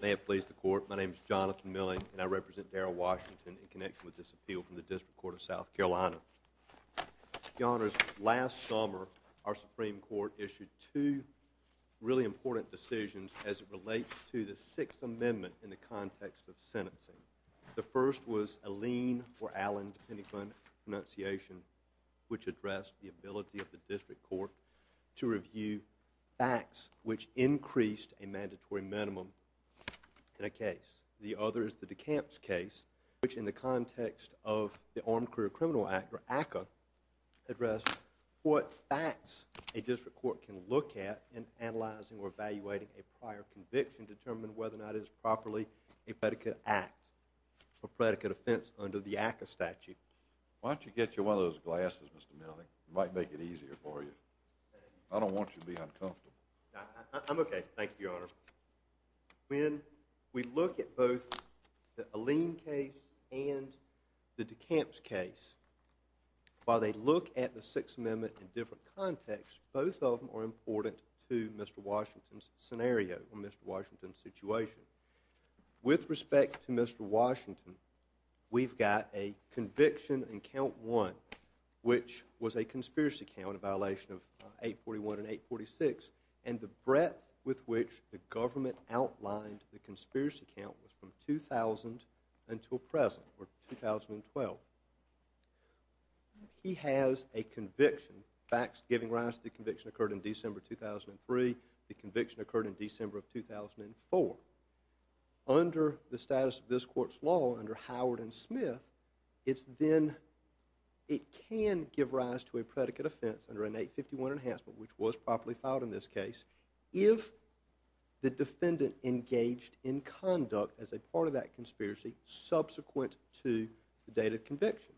May it please the Court, my name is Jonathan Milling and I represent Darrell Washington in connection with this appeal from the District Court of South Carolina. Your Honors, last summer, our Supreme Court issued two really important decisions as it relates to the Sixth Amendment in the context of sentencing. The first was a lien, or Allen, depending upon pronunciation, which addressed the ability of the District Court to review facts which increased a mandatory minimum in a case. The other is the DeCamps case, which in the context of the Armed Career Criminal Act, or ACCA, addressed what facts a District Court can look at in analyzing or evaluating a prior conviction to determine whether or not it is properly a predicate act or predicate offense under the ACCA statute. Why don't you get you one of those glasses, Mr. Milling, it might make it easier for you. I don't want you to be uncomfortable. I'm okay. Thank you, Your Honor. When we look at both the Allen case and the DeCamps case, while they look at the Sixth Amendment in different contexts, both of them are important to Mr. Washington's scenario, or Mr. Washington's situation. With respect to Mr. Washington, we've got a conviction in Count 1, which was a conspiracy count, a violation of 841 and 846, and the breadth with which the government outlined the conspiracy count was from 2000 until present, or 2012. He has a conviction, facts giving rise to the conviction occurred in December 2003, the conviction occurred in December of 2004. Under the status of this court's law, under Howard and Smith, it can give rise to a predicate offense under an 851 enhancement, which was properly filed in this case, if the defendant engaged in conduct as a part of that conspiracy subsequent to the date of conviction.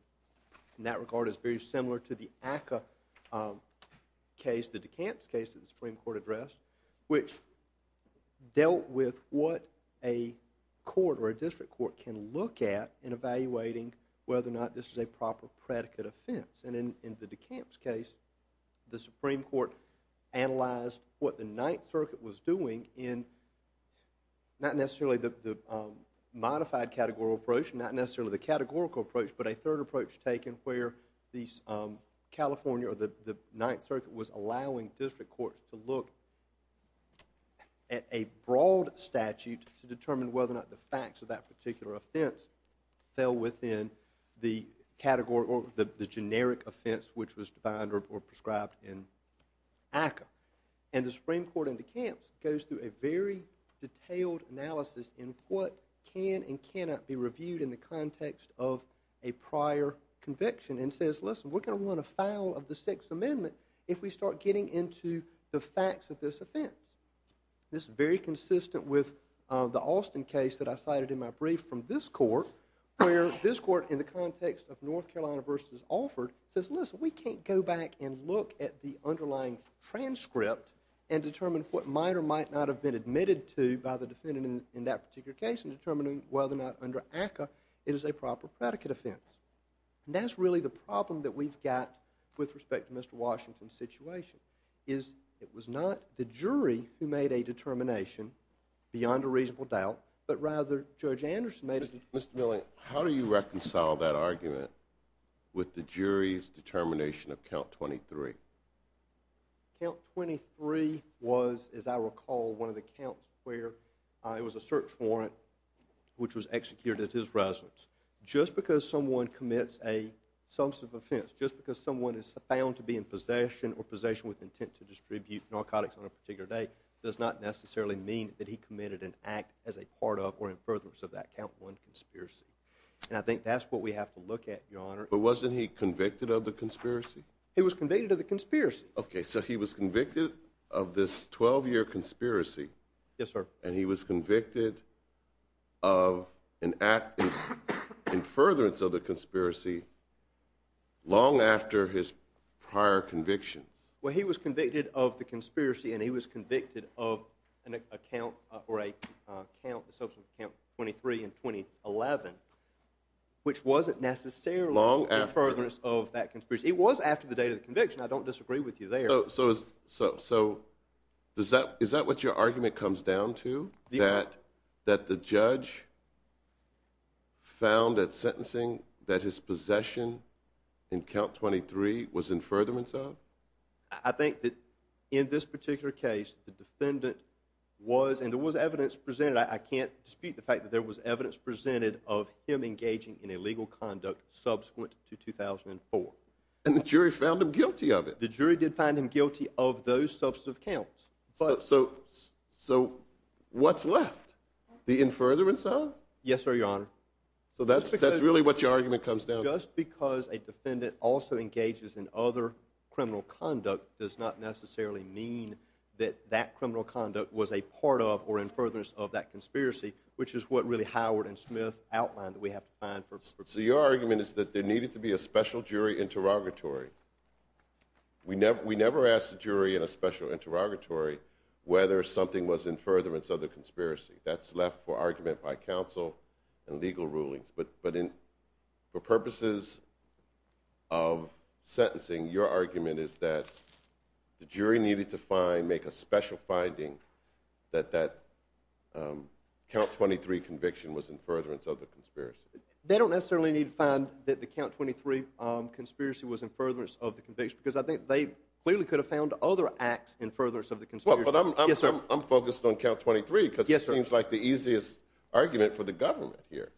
In that regard, it's very similar to the ACCA case, the DeCamps case that the Supreme Court addressed, which dealt with what a court or a district court can look at in evaluating whether or not this is a proper predicate offense. In the DeCamps case, the Supreme Court analyzed what the Ninth Circuit was doing in not necessarily the modified categorical approach, not necessarily the categorical approach, but a third approach taken where the California or the Ninth Circuit was allowing district courts to look at a broad statute to determine whether or not the facts of that particular offense fell within the generic offense which was defined or prescribed in ACCA. And the Supreme Court in DeCamps goes through a very detailed analysis in what can and cannot be reviewed in the context of a prior conviction and says, listen, we're going to want a file of the Sixth Amendment if we start getting into the facts of this offense. This is very consistent with the Alston case that I cited in my brief from this court where this court, in the context of North Carolina v. Alford, says, listen, we can't go back and look at the underlying transcript and determine what might or might not have been admitted to by the defendant in that particular case in determining whether or not under ACCA it is a proper predicate offense. And that's really the problem that we've got with respect to Mr. Washington's situation is it was not the jury who made a determination beyond a reasonable doubt, but rather Judge Anderson made it. Mr. Milley, how do you reconcile that argument with the jury's determination of count 23? Count 23 was, as I recall, one of the counts where it was a search warrant which was executed at his residence. Just because someone commits a substantive offense, just because someone is found to be in possession or possession with intent to distribute narcotics on a particular date does not necessarily mean that he committed an act as a part of or in furtherance of that count one conspiracy. And I think that's what we have to look at, Your Honor. But wasn't he convicted of the conspiracy? He was convicted of the conspiracy. Okay, so he was convicted of this 12-year conspiracy. Yes, sir. And he was convicted of an act in furtherance of the conspiracy long after his prior convictions. Well, he was convicted of the conspiracy and he was convicted of an account or a count, I believe it was in count 23 in 2011, which wasn't necessarily in furtherance of that conspiracy. It was after the date of the conviction. I don't disagree with you there. So is that what your argument comes down to? That the judge found that sentencing, that his possession in count 23 was in furtherance of? I think that in this particular case, the defendant was, and there was evidence presented, I can't dispute the fact that there was evidence presented of him engaging in illegal conduct subsequent to 2004. And the jury found him guilty of it? The jury did find him guilty of those substantive counts. So what's left? The in furtherance of? Yes, sir, Your Honor. So that's really what your argument comes down to? Just because a defendant also engages in other criminal conduct does not necessarily mean that that criminal conduct was a part of or in furtherance of that conspiracy, which is what really Howard and Smith outlined that we have to find first. So your argument is that there needed to be a special jury interrogatory. We never asked the jury in a special interrogatory whether something was in furtherance of the conspiracy. That's left for argument by counsel and legal rulings. But for purposes of sentencing, your argument is that the jury needed to find, make a special finding that that count 23 conviction was in furtherance of the conspiracy. They don't necessarily need to find that the count 23 conspiracy was in furtherance of the conviction because I think they clearly could have found other acts in furtherance of the conspiracy. Yes, sir. I'm focused on count 23 because it seems like the easiest argument for the government here.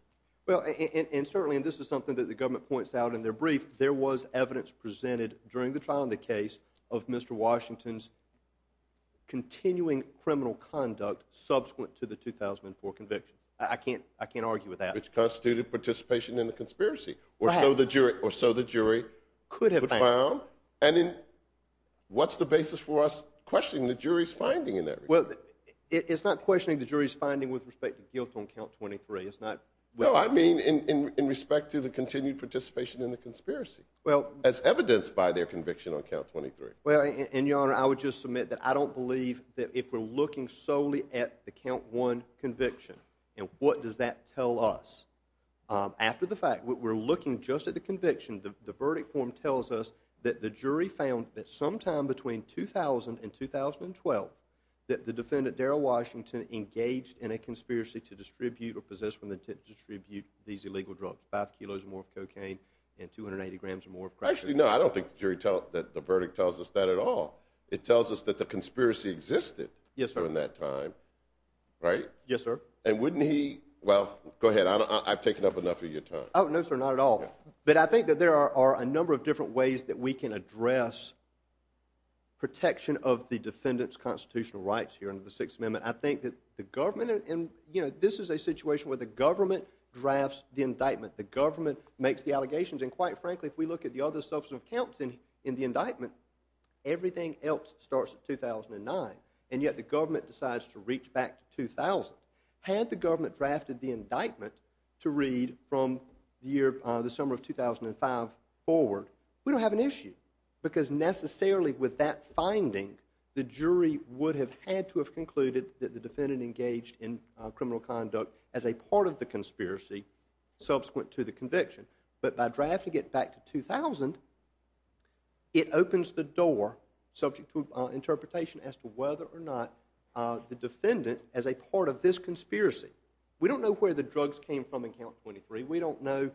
Well, and certainly, and this is something that the government points out in their brief, there was evidence presented during the trial in the case of Mr. Washington's continuing criminal conduct subsequent to the 2004 conviction. I can't argue with that. Which constituted participation in the conspiracy, or so the jury could have found. And then what's the basis for us questioning the jury's finding in that regard? It's not questioning the jury's finding with respect to guilt on count 23. No, I mean in respect to the continued participation in the conspiracy, as evidenced by their conviction on count 23. Well, and your honor, I would just submit that I don't believe that if we're looking solely at the count one conviction, and what does that tell us? After the fact, we're looking just at the conviction. The verdict form tells us that the jury found that sometime between 2000 and 2012, that the defendant, Darrell Washington, engaged in a conspiracy to distribute or possess from intent to distribute these illegal drugs, 5 kilos or more of cocaine, and 280 grams or more of crack cocaine. Actually, no, I don't think the verdict tells us that at all. It tells us that the conspiracy existed during that time, right? Yes, sir. And wouldn't he, well, go ahead, I've taken up enough of your time. Oh, no sir, not at all. But I think that there are a number of different ways that we can address protection of the jury under the Sixth Amendment. I think that the government, and you know, this is a situation where the government drafts the indictment. The government makes the allegations, and quite frankly, if we look at the other substantive counts in the indictment, everything else starts at 2009, and yet the government decides to reach back to 2000. Had the government drafted the indictment to read from the summer of 2005 forward, we don't have an issue, because necessarily with that finding, the jury would have had to have concluded that the defendant engaged in criminal conduct as a part of the conspiracy subsequent to the conviction. But by drafting it back to 2000, it opens the door subject to interpretation as to whether or not the defendant as a part of this conspiracy. We don't know where the drugs came from in Count 23. We don't know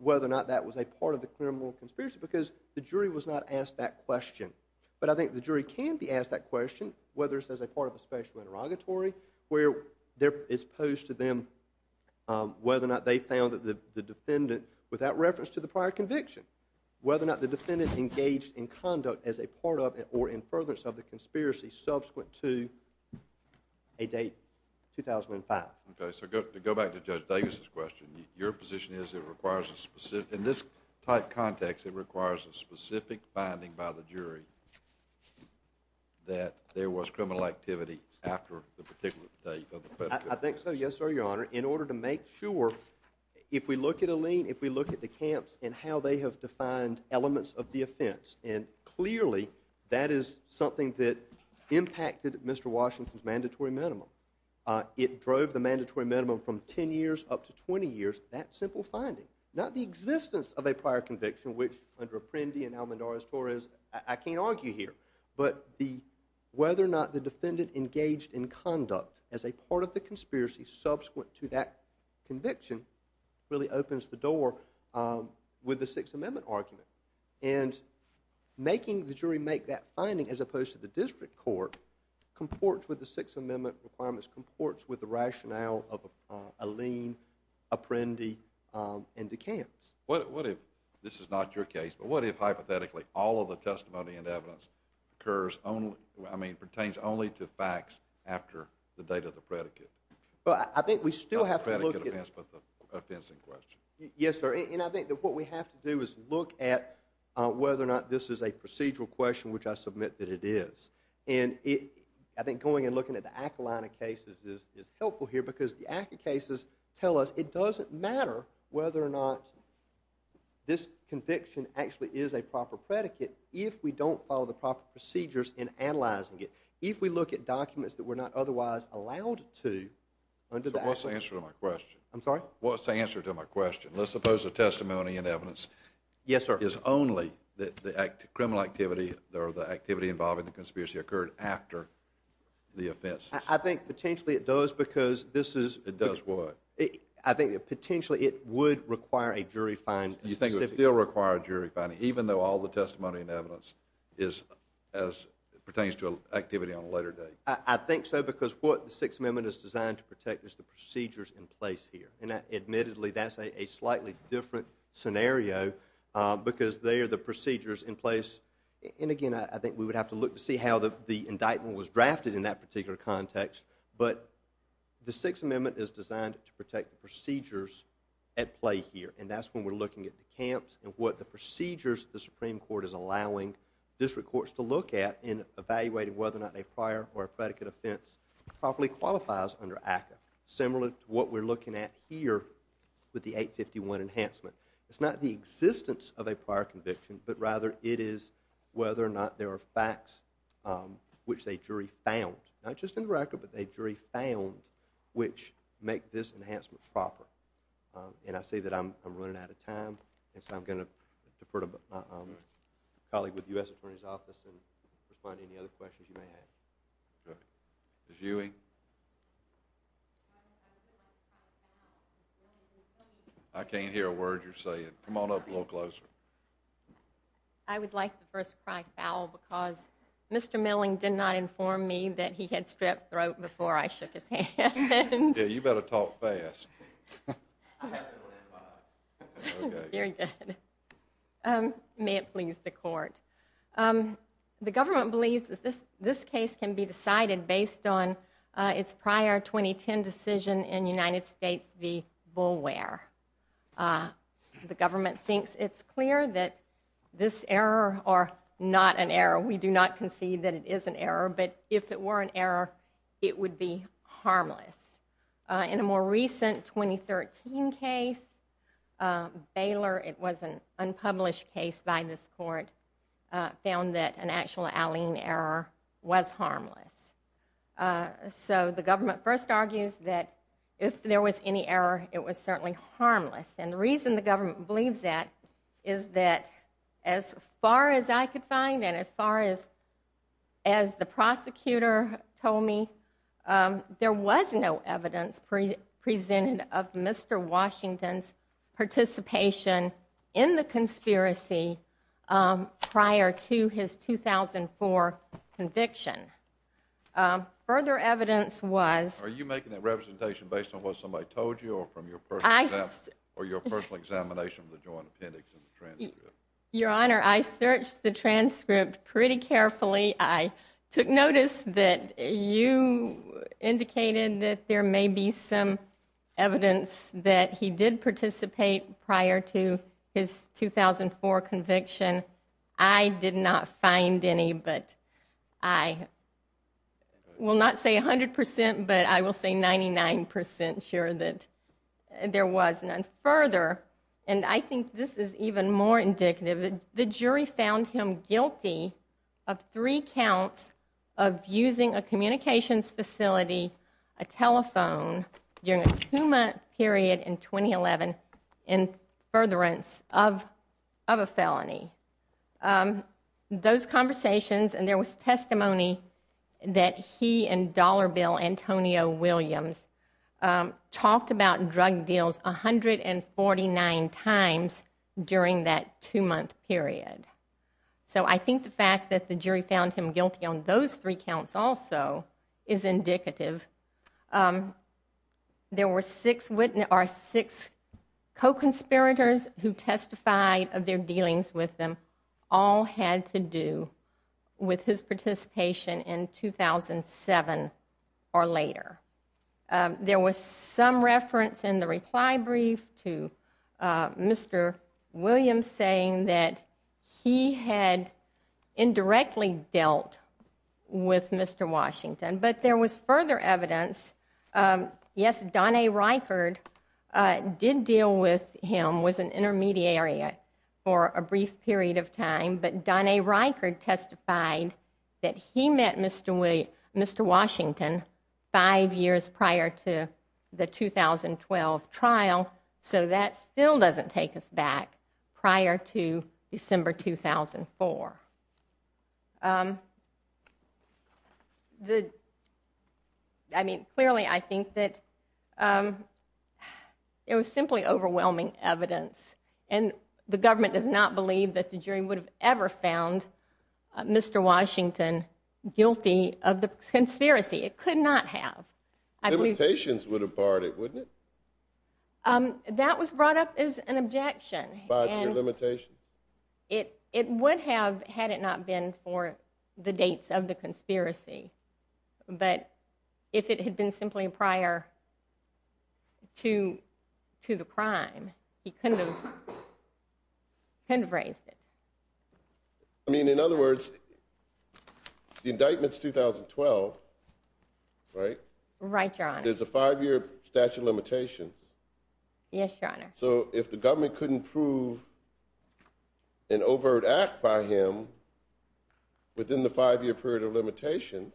whether or not that was a part of the criminal conspiracy, because the jury was not asked that question. But I think the jury can be asked that question, whether it's as a part of a special interrogatory, where it's posed to them whether or not they found that the defendant, without reference to the prior conviction, whether or not the defendant engaged in conduct as a part of or in furtherance of the conspiracy subsequent to a date, 2005. Okay, so to go back to Judge Davis's question, your position is it requires a specific, in this type of context, it requires a specific finding by the jury that there was criminal activity after the particular date of the conviction. I think so, yes, sir, your honor. In order to make sure, if we look at a lien, if we look at the camps and how they have defined elements of the offense, and clearly that is something that impacted Mr. Washington's mandatory minimum. It drove the mandatory minimum from 10 years up to 20 years, that simple finding. Not the existence of a prior conviction, which under Apprendi and Almendarez-Torres, I can't argue here, but whether or not the defendant engaged in conduct as a part of the conspiracy subsequent to that conviction really opens the door with the Sixth Amendment argument. And making the jury make that finding as opposed to the district court comports with the Sixth Amendment requirements, comports with the rationale of a lien, Apprendi, and the camps. What if, this is not your case, but what if hypothetically all of the testimony and evidence occurs only, I mean pertains only to facts after the date of the predicate? I think we still have to look at it. Not the predicate offense, but the offense in question. Yes, sir, and I think that what we have to do is look at whether or not this is a procedural question, which I submit that it is. And I think going and looking at the Acolina cases is helpful here because the Aco cases tell us it doesn't matter whether or not this conviction actually is a proper predicate if we don't follow the proper procedures in analyzing it. If we look at documents that we're not otherwise allowed to under the Aco- So what's the answer to my question? I'm sorry? What's the answer to my question? Let's suppose the testimony and evidence- Yes, sir. Is only the criminal activity or the activity involving the conspiracy occurred after the offense. I think potentially it does because this is- It does what? I think potentially it would require a jury find specifically. You think it would still require a jury find, even though all the testimony and evidence is as pertains to activity on a later date? I think so because what the Sixth Amendment is designed to protect is the procedures in place here. And admittedly, that's a slightly different scenario because they are the procedures in place. And again, I think we would have to look to see how the indictment was drafted in that particular context. But the Sixth Amendment is designed to protect the procedures at play here. And that's when we're looking at the camps and what the procedures the Supreme Court is allowing district courts to look at in evaluating whether or not a prior or a predicate offense properly qualifies under Aco. Similar to what we're looking at here with the 851 enhancement. It's not the existence of a prior conviction, but rather it is whether or not there are facts which a jury found. Not just in the record, but a jury found which make this enhancement proper. And I see that I'm running out of time, and so I'm going to defer to my colleague with the U.S. Attorney's Office and respond to any other questions you may have. Ms. Ewing? I can't hear a word you're saying. Come on up a little closer. I would like the first to cry foul because Mr. Milling did not inform me that he had strep throat before I shook his hand. Yeah, you better talk fast. May it please the court. The government believes that this case can be decided based on its prior 2010 decision in United States v. Boulware. The government thinks it's clear that this error are not an error. We do not concede that it is an error, but if it were an error, it would be harmless. In a more recent 2013 case, Baylor, it was an unpublished case by this court, found that an actual Alleyne error was harmless. So the government first argues that if there was any error, it was certainly harmless. And the reason the government believes that is that as far as I could find and as far as the prosecutor told me, there was no evidence presented of Mr. Washington's participation in the conspiracy prior to his 2004 conviction. Further evidence was... Are you making that representation based on what somebody told you or from your personal Your Honor, I searched the transcript pretty carefully. I took notice that you indicated that there may be some evidence that he did participate prior to his 2004 conviction. I did not find any, but I will not say 100%, but I will say 99% sure that there was none. Further, and I think this is even more indicative, the jury found him guilty of three counts of using a communications facility, a telephone, during a two-month period in 2011, in furtherance of a felony. Those conversations, and there was testimony that he and Dollar Bill Antonio Williams talked about drug deals 149 times during that two-month period. So I think the fact that the jury found him guilty on those three counts also is indicative. There were six co-conspirators who testified of their dealings with him all had to do with his participation in 2007 or later. There was some reference in the reply brief to Mr. Williams saying that he had indirectly dealt with Mr. Washington, but there was further evidence. Yes, Don A. Reichard did deal with him, was an intermediary for a brief period of time, but Don A. Reichard testified that he met Mr. Washington five years prior to the 2012 trial, so that still doesn't take us back prior to December 2004. I mean, clearly I think that it was simply overwhelming evidence, and the government does not believe that the jury would have ever found Mr. Washington guilty of the conspiracy. It could not have. Limitations would have barred it, wouldn't it? That was brought up as an objection. Barred your limitations? It would have had it not been for the dates of the conspiracy, but if it had been simply prior to the crime, he couldn't have raised it. I mean, in other words, the indictment's 2012, right? Right, Your Honor. There's a five-year statute of limitations. Yes, Your Honor. So if the government couldn't prove an overt act by him within the five-year period of limitations,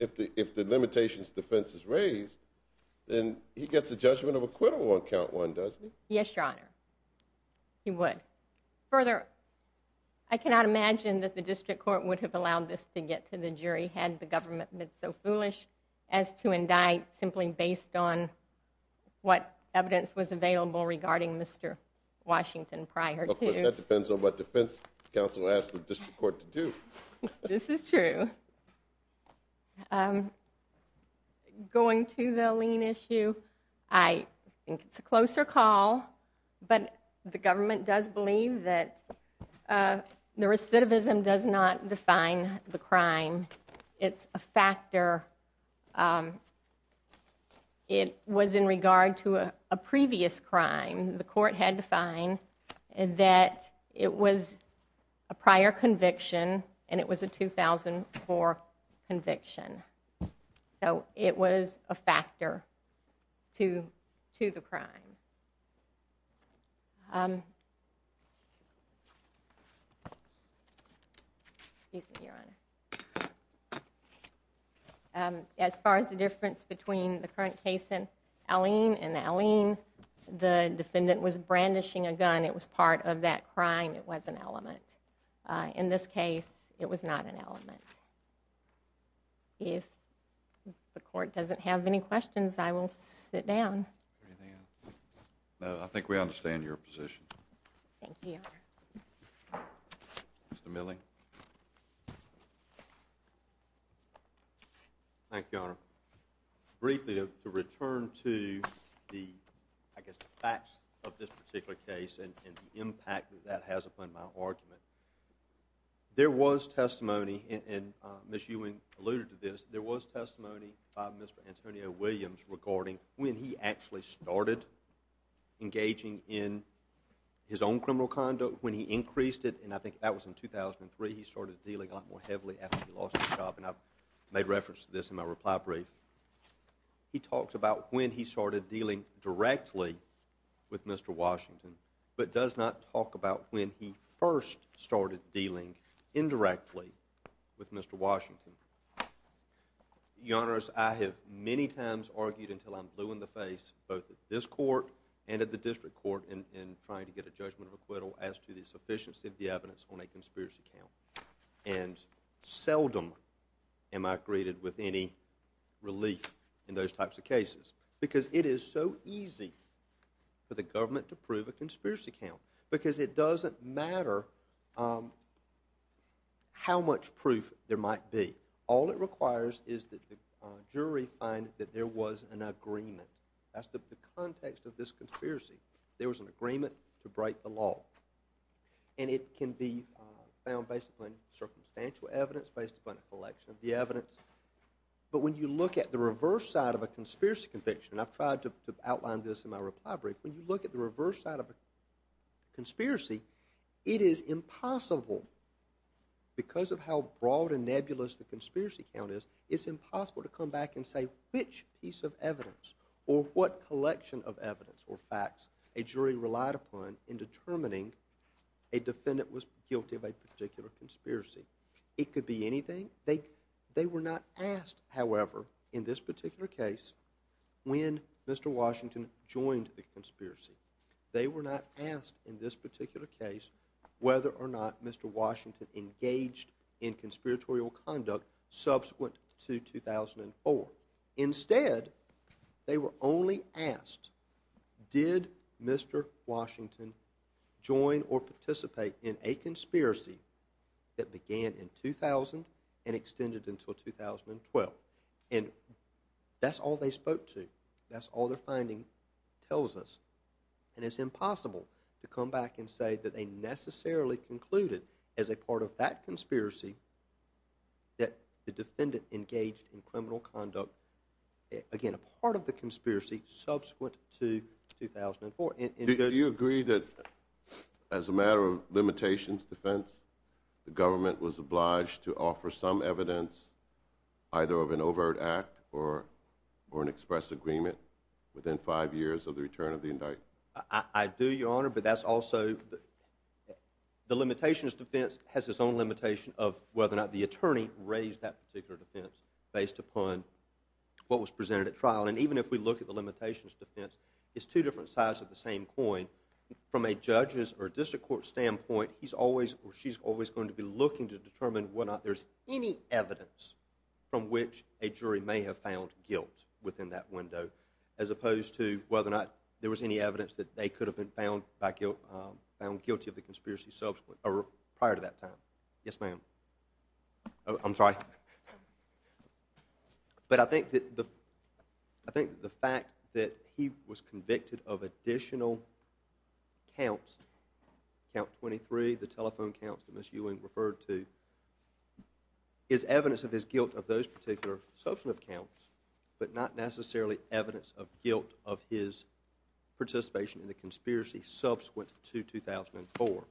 if the limitations defense is raised, then he gets a judgment of acquittal on count one, doesn't he? Yes, Your Honor, he would. Further, I cannot imagine that the district court would have allowed this to get to the jury had the government been so foolish as to indict simply based on what evidence was available regarding Mr. Washington prior to. Of course, that depends on what defense counsel asks the district court to do. This is true. Going to the lien issue, I think it's a closer call, but the government does believe that the recidivism does not define the crime. It's a factor. It was in regard to a previous crime. The court had defined that it was a prior conviction and it was a 2004 conviction. So it was a factor to the crime. Excuse me, Your Honor. As far as the difference between the current case in Alene and Alene, the defendant was brandishing a gun. It was part of that crime. It was an element. In this case, it was not an element. If the court doesn't have any questions, I will sit down. I think we understand your position. Thank you, Your Honor. Thank you, Your Honor. Briefly, to return to the facts of this particular case and the impact that that has upon my argument, there was testimony, and Ms. Ewing alluded to this, there was testimony by Mr. Antonio Williams regarding when he actually started engaging in his own criminal conduct. When he increased it, and I think that was in 2003, he started dealing a lot more heavily after he lost his job. And I've made reference to this in my reply brief. He talks about when he started dealing directly with Mr. Washington, but does not talk about when he first started dealing indirectly with Mr. Washington. Your Honors, I have many times argued until I'm blue in the face, both at this court and at the district court, in trying to get a judgment of acquittal as to the sufficiency of the evidence on a conspiracy count. And seldom am I greeted with any relief in those types of cases. Because it is so easy for the government to prove a conspiracy count. Because it doesn't matter how much proof there might be. All it requires is that the jury find that there was an agreement. That's the context of this conspiracy. There was an agreement to break the law. And it can be found based upon circumstantial evidence, based upon a collection of the evidence. But when you look at the reverse side of a conspiracy conviction, and I've tried to outline this in my reply brief, when you look at the reverse side of a conspiracy, it is impossible, because of how broad and nebulous the conspiracy count is, it's impossible to come back and say which piece of evidence, or what collection of evidence or facts a jury relied upon in determining a defendant was guilty of a particular conspiracy. It could be anything. They were not asked, however, in this particular case, when Mr. Washington joined the conspiracy. They were not asked in this particular case whether or not Mr. Washington engaged in conspiratorial conduct subsequent to 2004. Instead, they were only asked, did Mr. Washington join or participate in a conspiracy that began in 2000 and extended until 2012? And that's all they spoke to. That's all their finding tells us. And it's impossible to come back and say that they necessarily concluded as a part of that conspiracy that the defendant engaged in criminal conduct, again, a part of the conspiracy, subsequent to 2004. Do you agree that, as a matter of limitations defense, the government was obliged to offer some evidence, either of an overt act or an express agreement, within five years of the return of the indictment? I do, Your Honor, but that's also the limitations defense has its own limitation of whether or not the attorney raised that particular defense based upon what was presented at trial. And even if we look at the limitations defense, it's two different sides of the same coin. From a judge's or district court's standpoint, he's always or she's always going to be looking to determine whether or not there's any evidence from which a jury may have found guilt within that window, as opposed to whether or not there was any evidence that they could have been found guilty of the conspiracy prior to that time. Yes, ma'am. I'm sorry. But I think the fact that he was convicted of additional counts, count 23, the telephone counts that Ms. Ewing referred to, is evidence of his guilt of those particular substantive counts, but not necessarily evidence of guilt of his participation in the conspiracy subsequent to 2004.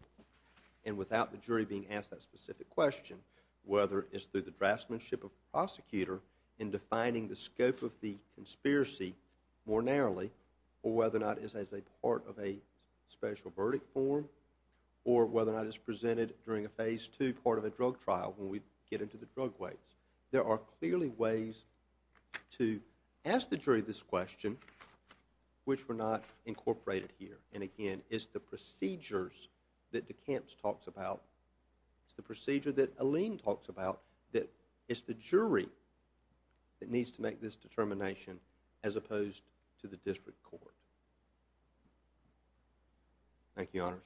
And without the jury being asked that specific question, whether it's through the draftsmanship of the prosecutor in defining the scope of the conspiracy more narrowly, or whether or not it's as a part of a special verdict form, or whether or not it's presented during a phase two part of a drug trial when we get into the drug ways. There are clearly ways to ask the jury this question, which were not incorporated here. And again, it's the procedures that DeCamps talks about, it's the procedure that Alene talks about, that it's the jury that needs to make this determination, Thank you, honors.